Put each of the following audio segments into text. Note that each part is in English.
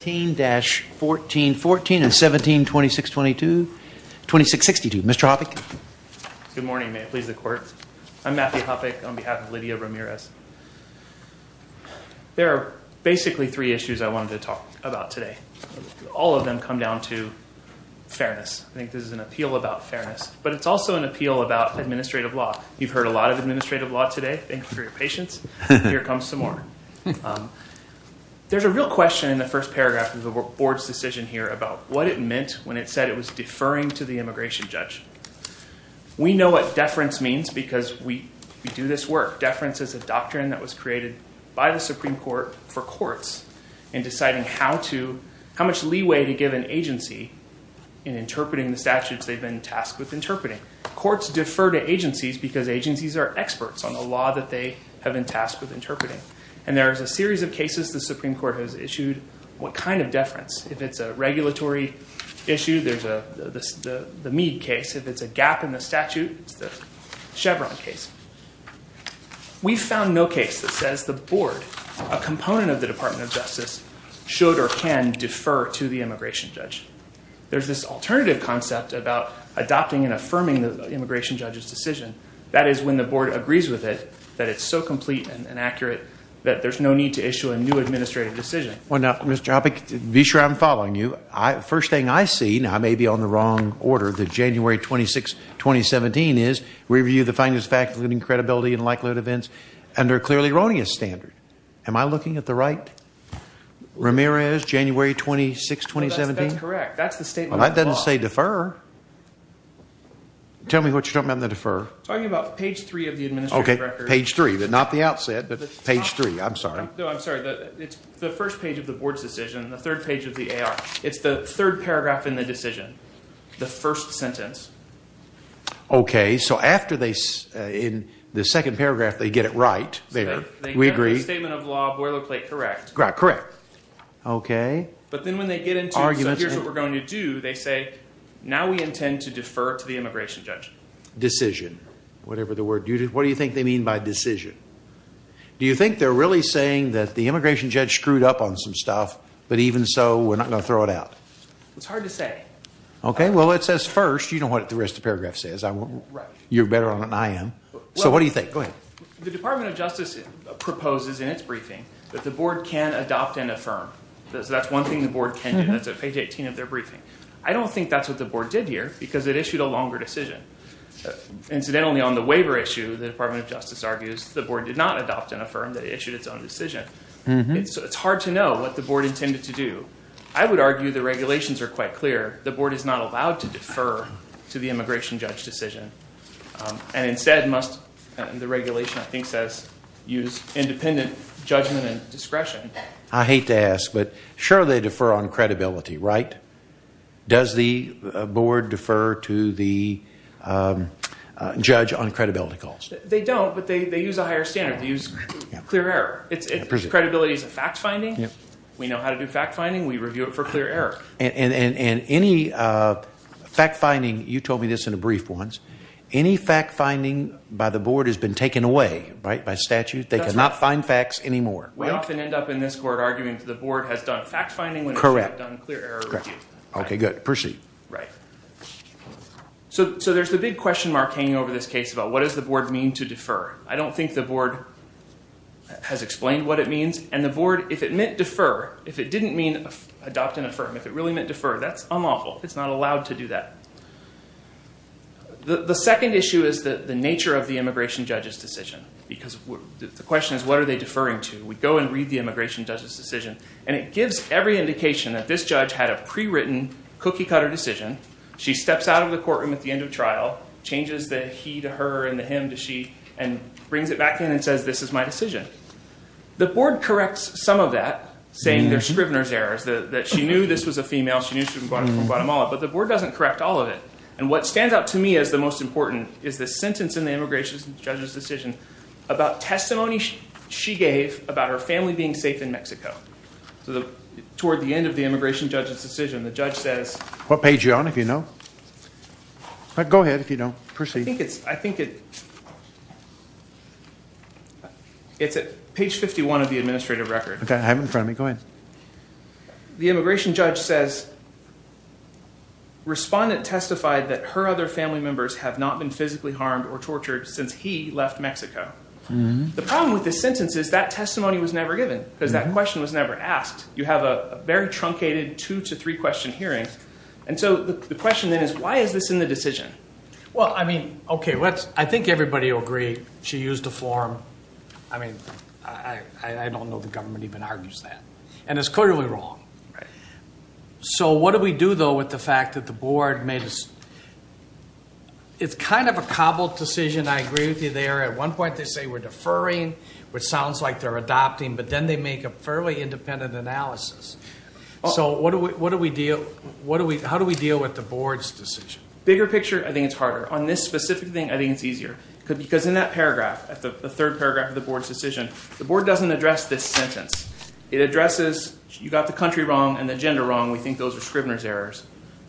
17-14-14 and 17-26-22-2662. Mr. Hoppeck. Good morning. May it please the Court. I'm Matthew Hoppeck on behalf of Lidia Ramirez. There are basically three issues I wanted to talk about today. All of them come down to fairness. I think this is an appeal about fairness, but it's also an appeal about administrative law. You've heard a lot of administrative law today. Thank you for your patience. Here comes some more. There's a real question in the first paragraph of the Board's decision here about what it meant when it said it was deferring to the immigration judge. We know what deference means because we do this work. Deference is a doctrine that was created by the Supreme Court for courts in deciding how much leeway to give an agency in interpreting the statutes they've been tasked with interpreting. Courts defer to agencies because agencies are experts on the law that they have been tasked with interpreting. And there is a series of cases the Supreme Court has issued what kind of deference. If it's a regulatory issue, there's the Mead case. If it's a gap in the statute, it's the Chevron case. We found no case that says the Board, a component of the Department of Justice, should or can defer to the immigration judge. There's this alternative concept about adopting and affirming the immigration judge's decision. That is when the Board agrees with it, that it's so complete and accurate that there's no need to issue a new administrative decision. Well, now, Mr. Hoppe, be sure I'm following you. First thing I see, and I may be on the wrong order, that January 26, 2017 is review the finest faculty and credibility and likelihood events under a clearly erroneous standard. Am I looking at the right? Ramirez, January 26, 2017? That's correct. That's the statement of the law. Well, that doesn't say defer. Tell me what you're talking about in the defer. I'm talking about page 3 of the administrative record. Okay, page 3, but not the outset, but page 3. I'm sorry. No, I'm sorry. It's the first page of the Board's decision, the third page of the AR. It's the third paragraph in the decision, the first sentence. Okay, so after they, in the second paragraph, they get it right there. We agree. The statement of law, boilerplate correct. Correct. Okay. But then when they get into, so here's what we're going to do, they say, now we intend to defer to the immigration judge. Decision, whatever the word. What do you think they mean by decision? Do you think they're really saying that the immigration judge screwed up on some stuff, but even so, we're not going to throw it out? It's hard to say. Okay, well, it says first, you know what the rest of the paragraph says. Right. You're better on it than I am. So what do you think? Go ahead. The Department of Justice proposes in its briefing that the Board can adopt and affirm. That's one thing the Board can do. That's at page 18 of their briefing. I don't think that's what the Board did here because it issued a longer decision. Incidentally, on the waiver issue, the Department of Justice argues the Board did not adopt and affirm. They issued its own decision. It's hard to know what the Board intended to do. I would argue the regulations are quite clear. The Board is not allowed to defer to the immigration judge decision and instead must, the regulation I think says, use independent judgment and discretion. I hate to ask, but sure they defer on credibility, right? Does the Board defer to the judge on credibility calls? They don't, but they use a higher standard. They use clear error. Credibility is a fact finding. We know how to do fact finding. We review it for clear error. And any fact finding, you told me this in a brief once, any fact finding by the Board has been taken away by statute. They cannot find facts anymore. We often end up in this court arguing that the Board has done fact finding when it should have done clear error review. Correct. Okay, good. Proceed. Right. So there's the big question mark hanging over this case about what does the Board mean to defer? I don't think the Board has explained what it means. And the Board, if it meant defer, if it didn't mean adopt and affirm, if it really meant defer, that's unlawful. It's not allowed to do that. The second issue is the nature of the immigration judge's decision because the question is what are they deferring to? We go and read the immigration judge's decision, and it gives every indication that this judge had a prewritten cookie cutter decision. She steps out of the courtroom at the end of trial, changes the he to her and the him to she, and brings it back in and says this is my decision. The Board corrects some of that, saying there's Scrivener's errors, that she knew this was a female. She knew she was from Guatemala. But the Board doesn't correct all of it. And what stands out to me as the most important is the sentence in the immigration judge's decision about testimony she gave about her family being safe in Mexico. So toward the end of the immigration judge's decision, the judge says – What page are you on, if you know? Go ahead, if you don't. Proceed. I think it's at page 51 of the administrative record. Okay, have it in front of me. Go ahead. The immigration judge says respondent testified that her other family members have not been physically harmed or tortured since he left Mexico. The problem with this sentence is that testimony was never given because that question was never asked. You have a very truncated two to three question hearing. And so the question then is why is this in the decision? Well, I mean, okay, I think everybody will agree she used a form. I mean, I don't know the government even argues that. And it's clearly wrong. So what do we do, though, with the fact that the Board made a – It's kind of a cobbled decision. I agree with you there. At one point they say we're deferring, which sounds like they're adopting. But then they make a fairly independent analysis. So what do we – how do we deal with the Board's decision? Bigger picture, I think it's harder. On this specific thing, I think it's easier. Because in that paragraph, the third paragraph of the Board's decision, the Board doesn't address this sentence. It addresses you got the country wrong and the gender wrong. We think those are Scrivener's errors.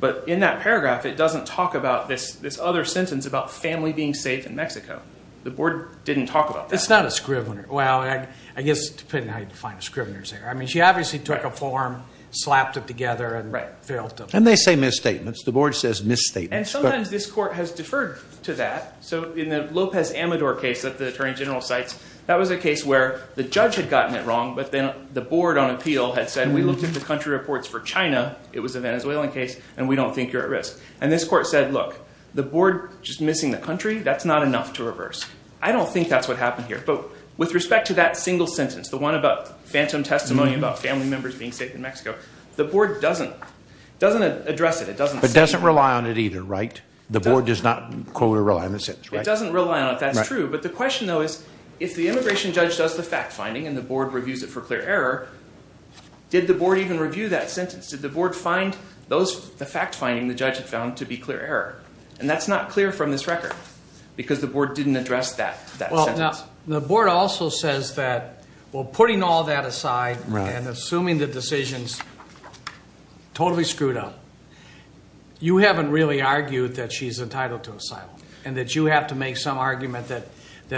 But in that paragraph it doesn't talk about this other sentence about family being safe in Mexico. The Board didn't talk about that. It's not a Scrivener. Well, I guess depending on how you define a Scrivener's error. I mean, she obviously took a form, slapped it together, and failed to – And they say misstatements. The Board says misstatements. And sometimes this court has deferred to that. So in the Lopez Amador case that the Attorney General cites, that was a case where the judge had gotten it wrong, but then the Board on appeal had said we looked at the country reports for China. It was a Venezuelan case, and we don't think you're at risk. And this court said, look, the Board just missing the country, that's not enough to reverse. I don't think that's what happened here. But with respect to that single sentence, the one about phantom testimony about family members being safe in Mexico, the Board doesn't address it. It doesn't rely on it either, right? The Board does not quote or rely on the sentence, right? It doesn't rely on it. That's true. But the question, though, is if the immigration judge does the fact-finding and the Board reviews it for clear error, did the Board even review that sentence? Did the Board find the fact-finding the judge had found to be clear error? And that's not clear from this record because the Board didn't address that sentence. Now, the Board also says that, well, putting all that aside and assuming the decision is totally screwed up, you haven't really argued that she's entitled to asylum and that you have to make some argument that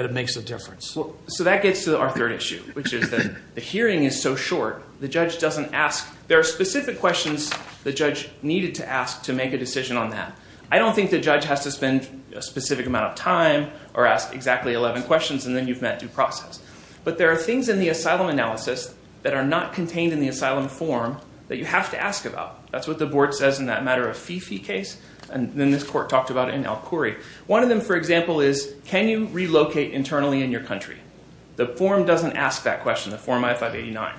it makes a difference. So that gets to our third issue, which is that the hearing is so short, the judge doesn't ask. There are specific questions the judge needed to ask to make a decision on that. I don't think the judge has to spend a specific amount of time or ask exactly 11 questions and then you've met due process. But there are things in the asylum analysis that are not contained in the asylum form that you have to ask about. That's what the Board says in that matter-of-fee-fee case, and then this court talked about it in Al-Quri. One of them, for example, is can you relocate internally in your country? The form doesn't ask that question, the Form I-589.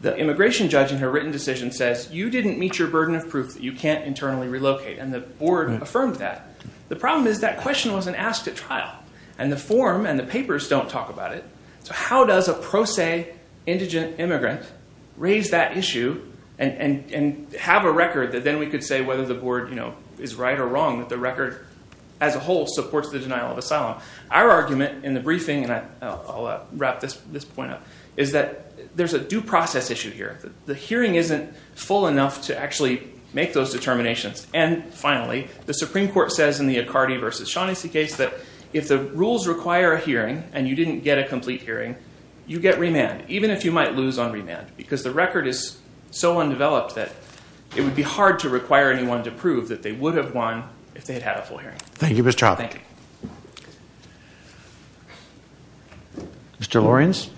The immigration judge in her written decision says you didn't meet your burden of proof that you can't internally relocate, and the Board affirmed that. The problem is that question wasn't asked at trial, and the form and the papers don't talk about it. So how does a pro se indigent immigrant raise that issue and have a record that then we could say whether the Board is right or wrong, that the record as a whole supports the denial of asylum? Our argument in the briefing, and I'll wrap this point up, is that there's a due process issue here. The hearing isn't full enough to actually make those determinations. And, finally, the Supreme Court says in the Accardi v. Shaughnessy case that if the rules require a hearing and you didn't get a complete hearing, you get remand, even if you might lose on remand, because the record is so undeveloped that it would be hard to require anyone to prove that they would have won if they had had a full hearing. Thank you, Mr. Childs. Thank you. Thank you. Mr. Lorenz.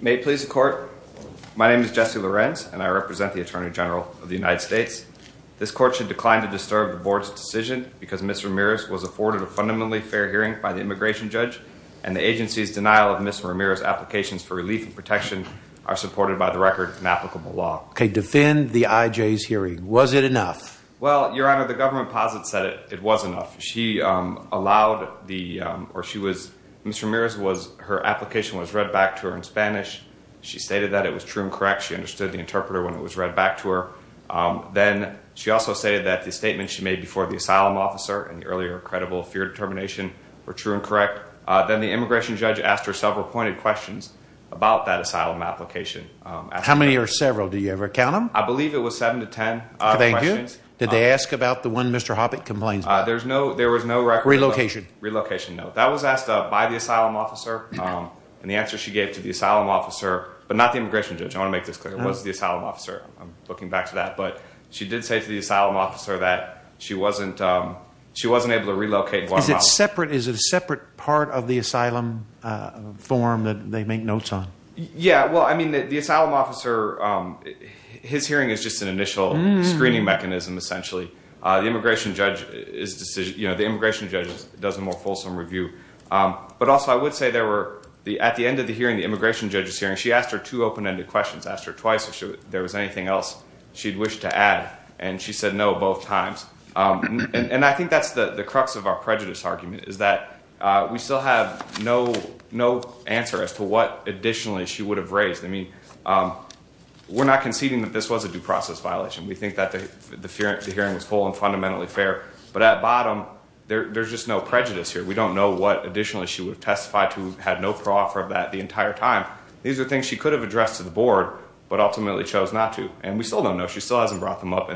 May it please the Court, my name is Jesse Lorenz, and I represent the Attorney General of the United States. This Court should decline to disturb the Board's decision because Ms. Ramirez was afforded a fundamentally fair hearing by the immigration judge and the agency's denial of Ms. Ramirez's applications for relief and protection are supported by the record and applicable law. Okay, defend the IJ's hearing. Was it enough? Well, Your Honor, the government posits that it was enough. She allowed the, or she was, Ms. Ramirez was, her application was read back to her in Spanish. She stated that it was true and correct. She understood the interpreter when it was read back to her. Then she also stated that the statement she made before the asylum officer and the earlier credible fear determination were true and correct. Then the immigration judge asked her several pointed questions about that asylum application. How many or several? Do you ever count them? I believe it was seven to ten questions. Thank you. Did they ask about the one Mr. Hoppe complains about? There was no record. Relocation. Relocation, no. That was asked by the asylum officer, and the answer she gave to the asylum officer, but not the immigration judge. I want to make this clear. It was the asylum officer. I'm looking back to that. But she did say to the asylum officer that she wasn't able to relocate Guantanamo. Is it separate? Is it a separate part of the asylum form that they make notes on? Yeah. Well, I mean, the asylum officer, his hearing is just an initial screening mechanism, essentially. The immigration judge does a more fulsome review. But also, I would say there were, at the end of the hearing, the immigration judge's hearing, she asked her two open-ended questions. Asked her twice if there was anything else she'd wish to add, and she said no both times. And I think that's the crux of our prejudice argument, is that we still have no answer as to what additionally she would have raised. I mean, we're not conceding that this was a due process violation. We think that the hearing was full and fundamentally fair. But at bottom, there's just no prejudice here. We don't know what additionally she would have testified to, had no proffer of that the entire time. These are things she could have addressed to the board, but ultimately chose not to. And we still don't know. She still hasn't brought them up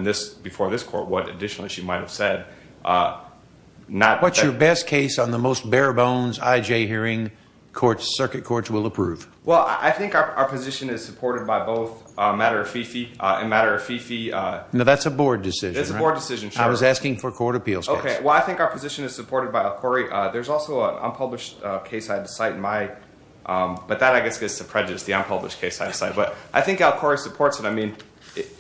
before this court what additionally she might have said. What's your best case on the most bare-bones IJ hearing circuit courts will approve? Well, I think our position is supported by both matter of FIFI and matter of FIFI. No, that's a board decision, right? It's a board decision, sure. I was asking for a court appeals case. Okay. Well, I think our position is supported by a quarry. There's also an unpublished case I had to cite. But that, I guess, gets to prejudice, the unpublished case I had to cite. But I think our quarry supports it. I mean,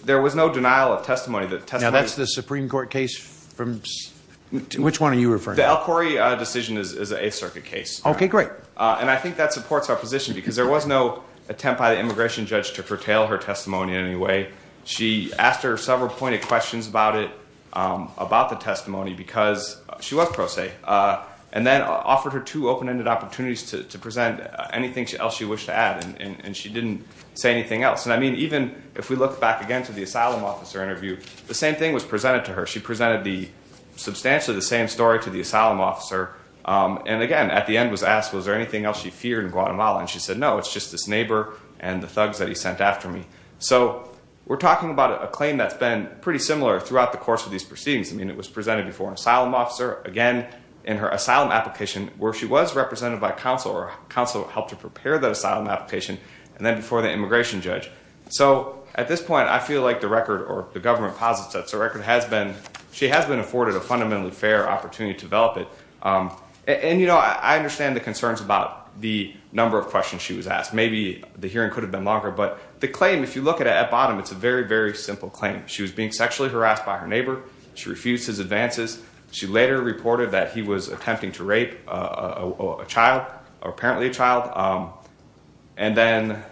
there was no denial of testimony. Now, that's the Supreme Court case? Which one are you referring to? The Al Quarry decision is an Eighth Circuit case. Okay, great. And I think that supports our position because there was no attempt by the immigration judge to curtail her testimony in any way. She asked her several pointed questions about it, about the testimony, because she was pro se. And then offered her two open-ended opportunities to present anything else she wished to add. And she didn't say anything else. And, I mean, even if we look back again to the asylum officer interview, the same thing was presented to her. She presented substantially the same story to the asylum officer. And, again, at the end was asked was there anything else she feared in Guatemala. And she said, no, it's just this neighbor and the thugs that he sent after me. So we're talking about a claim that's been pretty similar throughout the course of these proceedings. I mean, it was presented before an asylum officer. Again, in her asylum application, where she was represented by counsel. Counsel helped her prepare that asylum application. And then before the immigration judge. So, at this point, I feel like the record or the government posits that the record has been, she has been afforded a fundamentally fair opportunity to develop it. And, you know, I understand the concerns about the number of questions she was asked. Maybe the hearing could have been longer. But the claim, if you look at it at bottom, it's a very, very simple claim. She was being sexually harassed by her neighbor. She refused his advances. She later reported that he was attempting to rape a child or apparently a child. And then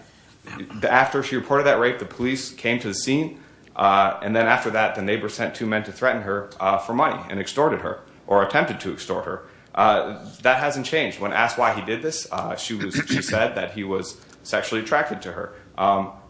after she reported that rape, the police came to the scene. And then after that, the neighbor sent two men to threaten her for money and extorted her or attempted to extort her. That hasn't changed. When asked why he did this, she said that he was sexually attracted to her.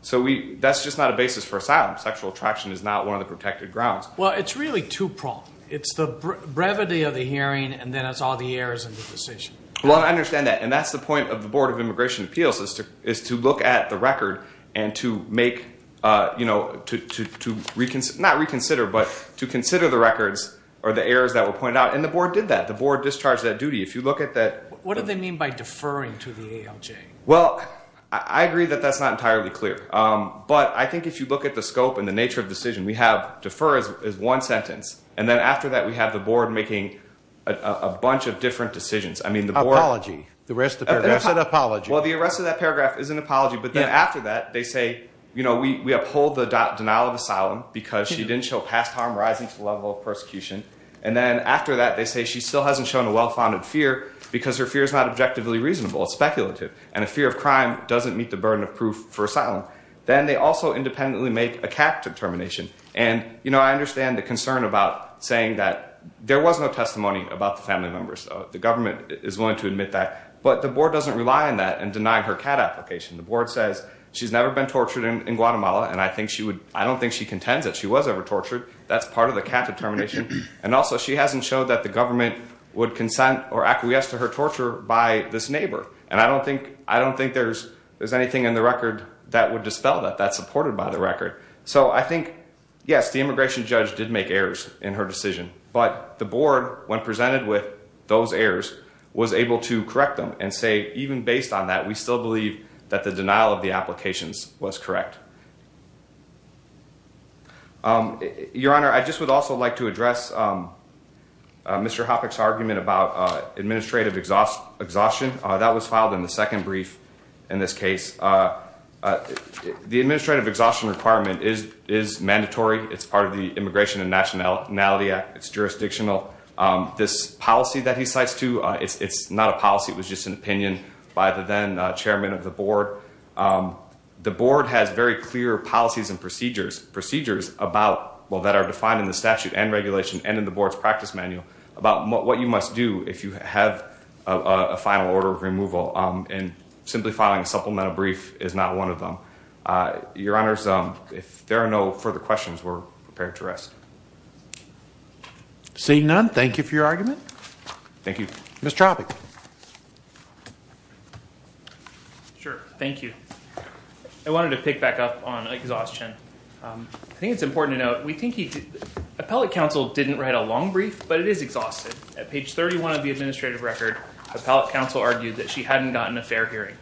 So that's just not a basis for asylum. Sexual attraction is not one of the protected grounds. Well, it's really two-pronged. It's the brevity of the hearing and then it's all the errors in the decision. Well, I understand that. And that's the point of the Board of Immigration Appeals is to look at the record and to make – not reconsider, but to consider the records or the errors that were pointed out. And the board did that. The board discharged that duty. If you look at that – What do they mean by deferring to the ALJ? Well, I agree that that's not entirely clear. But I think if you look at the scope and the nature of the decision, we have defer as one sentence. And then after that, we have the board making a bunch of different decisions. I mean the board – Apology. The rest of the paragraph said apology. Well, the rest of that paragraph is an apology. But then after that, they say we uphold the denial of asylum because she didn't show past harm rising to the level of persecution. And then after that, they say she still hasn't shown a well-founded fear because her fear is not objectively reasonable. It's speculative. And a fear of crime doesn't meet the burden of proof for asylum. Then they also independently make a CAT determination. And I understand the concern about saying that there was no testimony about the family members. The government is willing to admit that. But the board doesn't rely on that in denying her CAT application. The board says she's never been tortured in Guatemala. And I think she would – I don't think she contends that she was ever tortured. That's part of the CAT determination. And also, she hasn't showed that the government would consent or acquiesce to her torture by this neighbor. And I don't think there's anything in the record that would dispel that. That's supported by the record. So I think, yes, the immigration judge did make errors in her decision. But the board, when presented with those errors, was able to correct them and say even based on that, we still believe that the denial of the applications was correct. Your Honor, I just would also like to address Mr. Hoppeck's argument about administrative exhaustion. That was filed in the second brief in this case. The administrative exhaustion requirement is mandatory. It's part of the Immigration and Nationality Act. It's jurisdictional. This policy that he cites, too, it's not a policy. It was just an opinion by the then chairman of the board. The board has very clear policies and procedures that are defined in the statute and regulation and in the board's practice manual about what you must do if you have a final order of removal. And simplifying a supplemental brief is not one of them. Your Honors, if there are no further questions, we're prepared to rest. Seeing none, thank you for your argument. Thank you. Mr. Hoppeck. Sure. Thank you. I wanted to pick back up on exhaustion. I think it's important to note, we think he did, appellate counsel didn't write a long brief, but it is exhausted. At page 31 of the administrative record, appellate counsel argued that she hadn't gotten a fair hearing.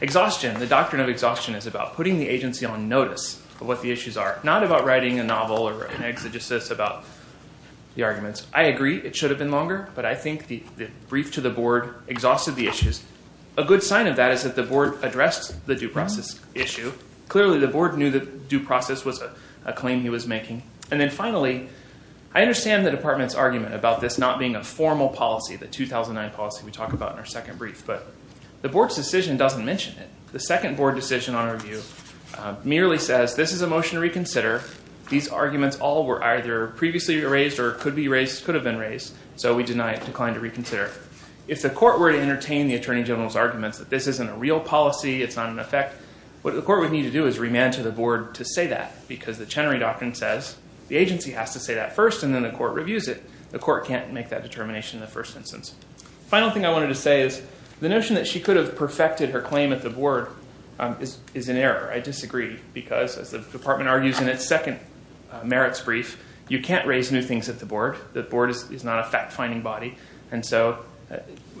Exhaustion, the doctrine of exhaustion is about putting the agency on notice of what the issues are, I agree it should have been longer, but I think the brief to the board exhausted the issues. A good sign of that is that the board addressed the due process issue. Clearly the board knew that due process was a claim he was making. And then finally, I understand the department's argument about this not being a formal policy, the 2009 policy we talk about in our second brief, but the board's decision doesn't mention it. The second board decision on review merely says this is a motion to reconsider. These arguments all were either previously raised or could be raised, could have been raised. So we deny it, decline to reconsider. If the court were to entertain the attorney general's arguments that this isn't a real policy, it's not an effect, what the court would need to do is remand to the board to say that because the Chenery Doctrine says the agency has to say that first, and then the court reviews it. The court can't make that determination in the first instance. The final thing I wanted to say is the notion that she could have perfected her claim at the board is in error. I disagree because, as the department argues in its second merits brief, you can't raise new things at the board. The board is not a fact-finding body. And so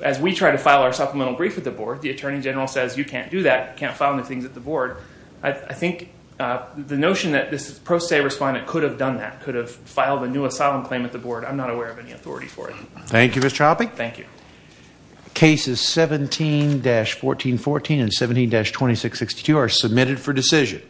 as we try to file our supplemental brief at the board, the attorney general says you can't do that, can't file new things at the board. I think the notion that this pro se respondent could have done that, could have filed a new asylum claim at the board, I'm not aware of any authority for it. Thank you, Mr. Hoppe. Thank you. Cases 17-1414 and 17-2662 are submitted for decision.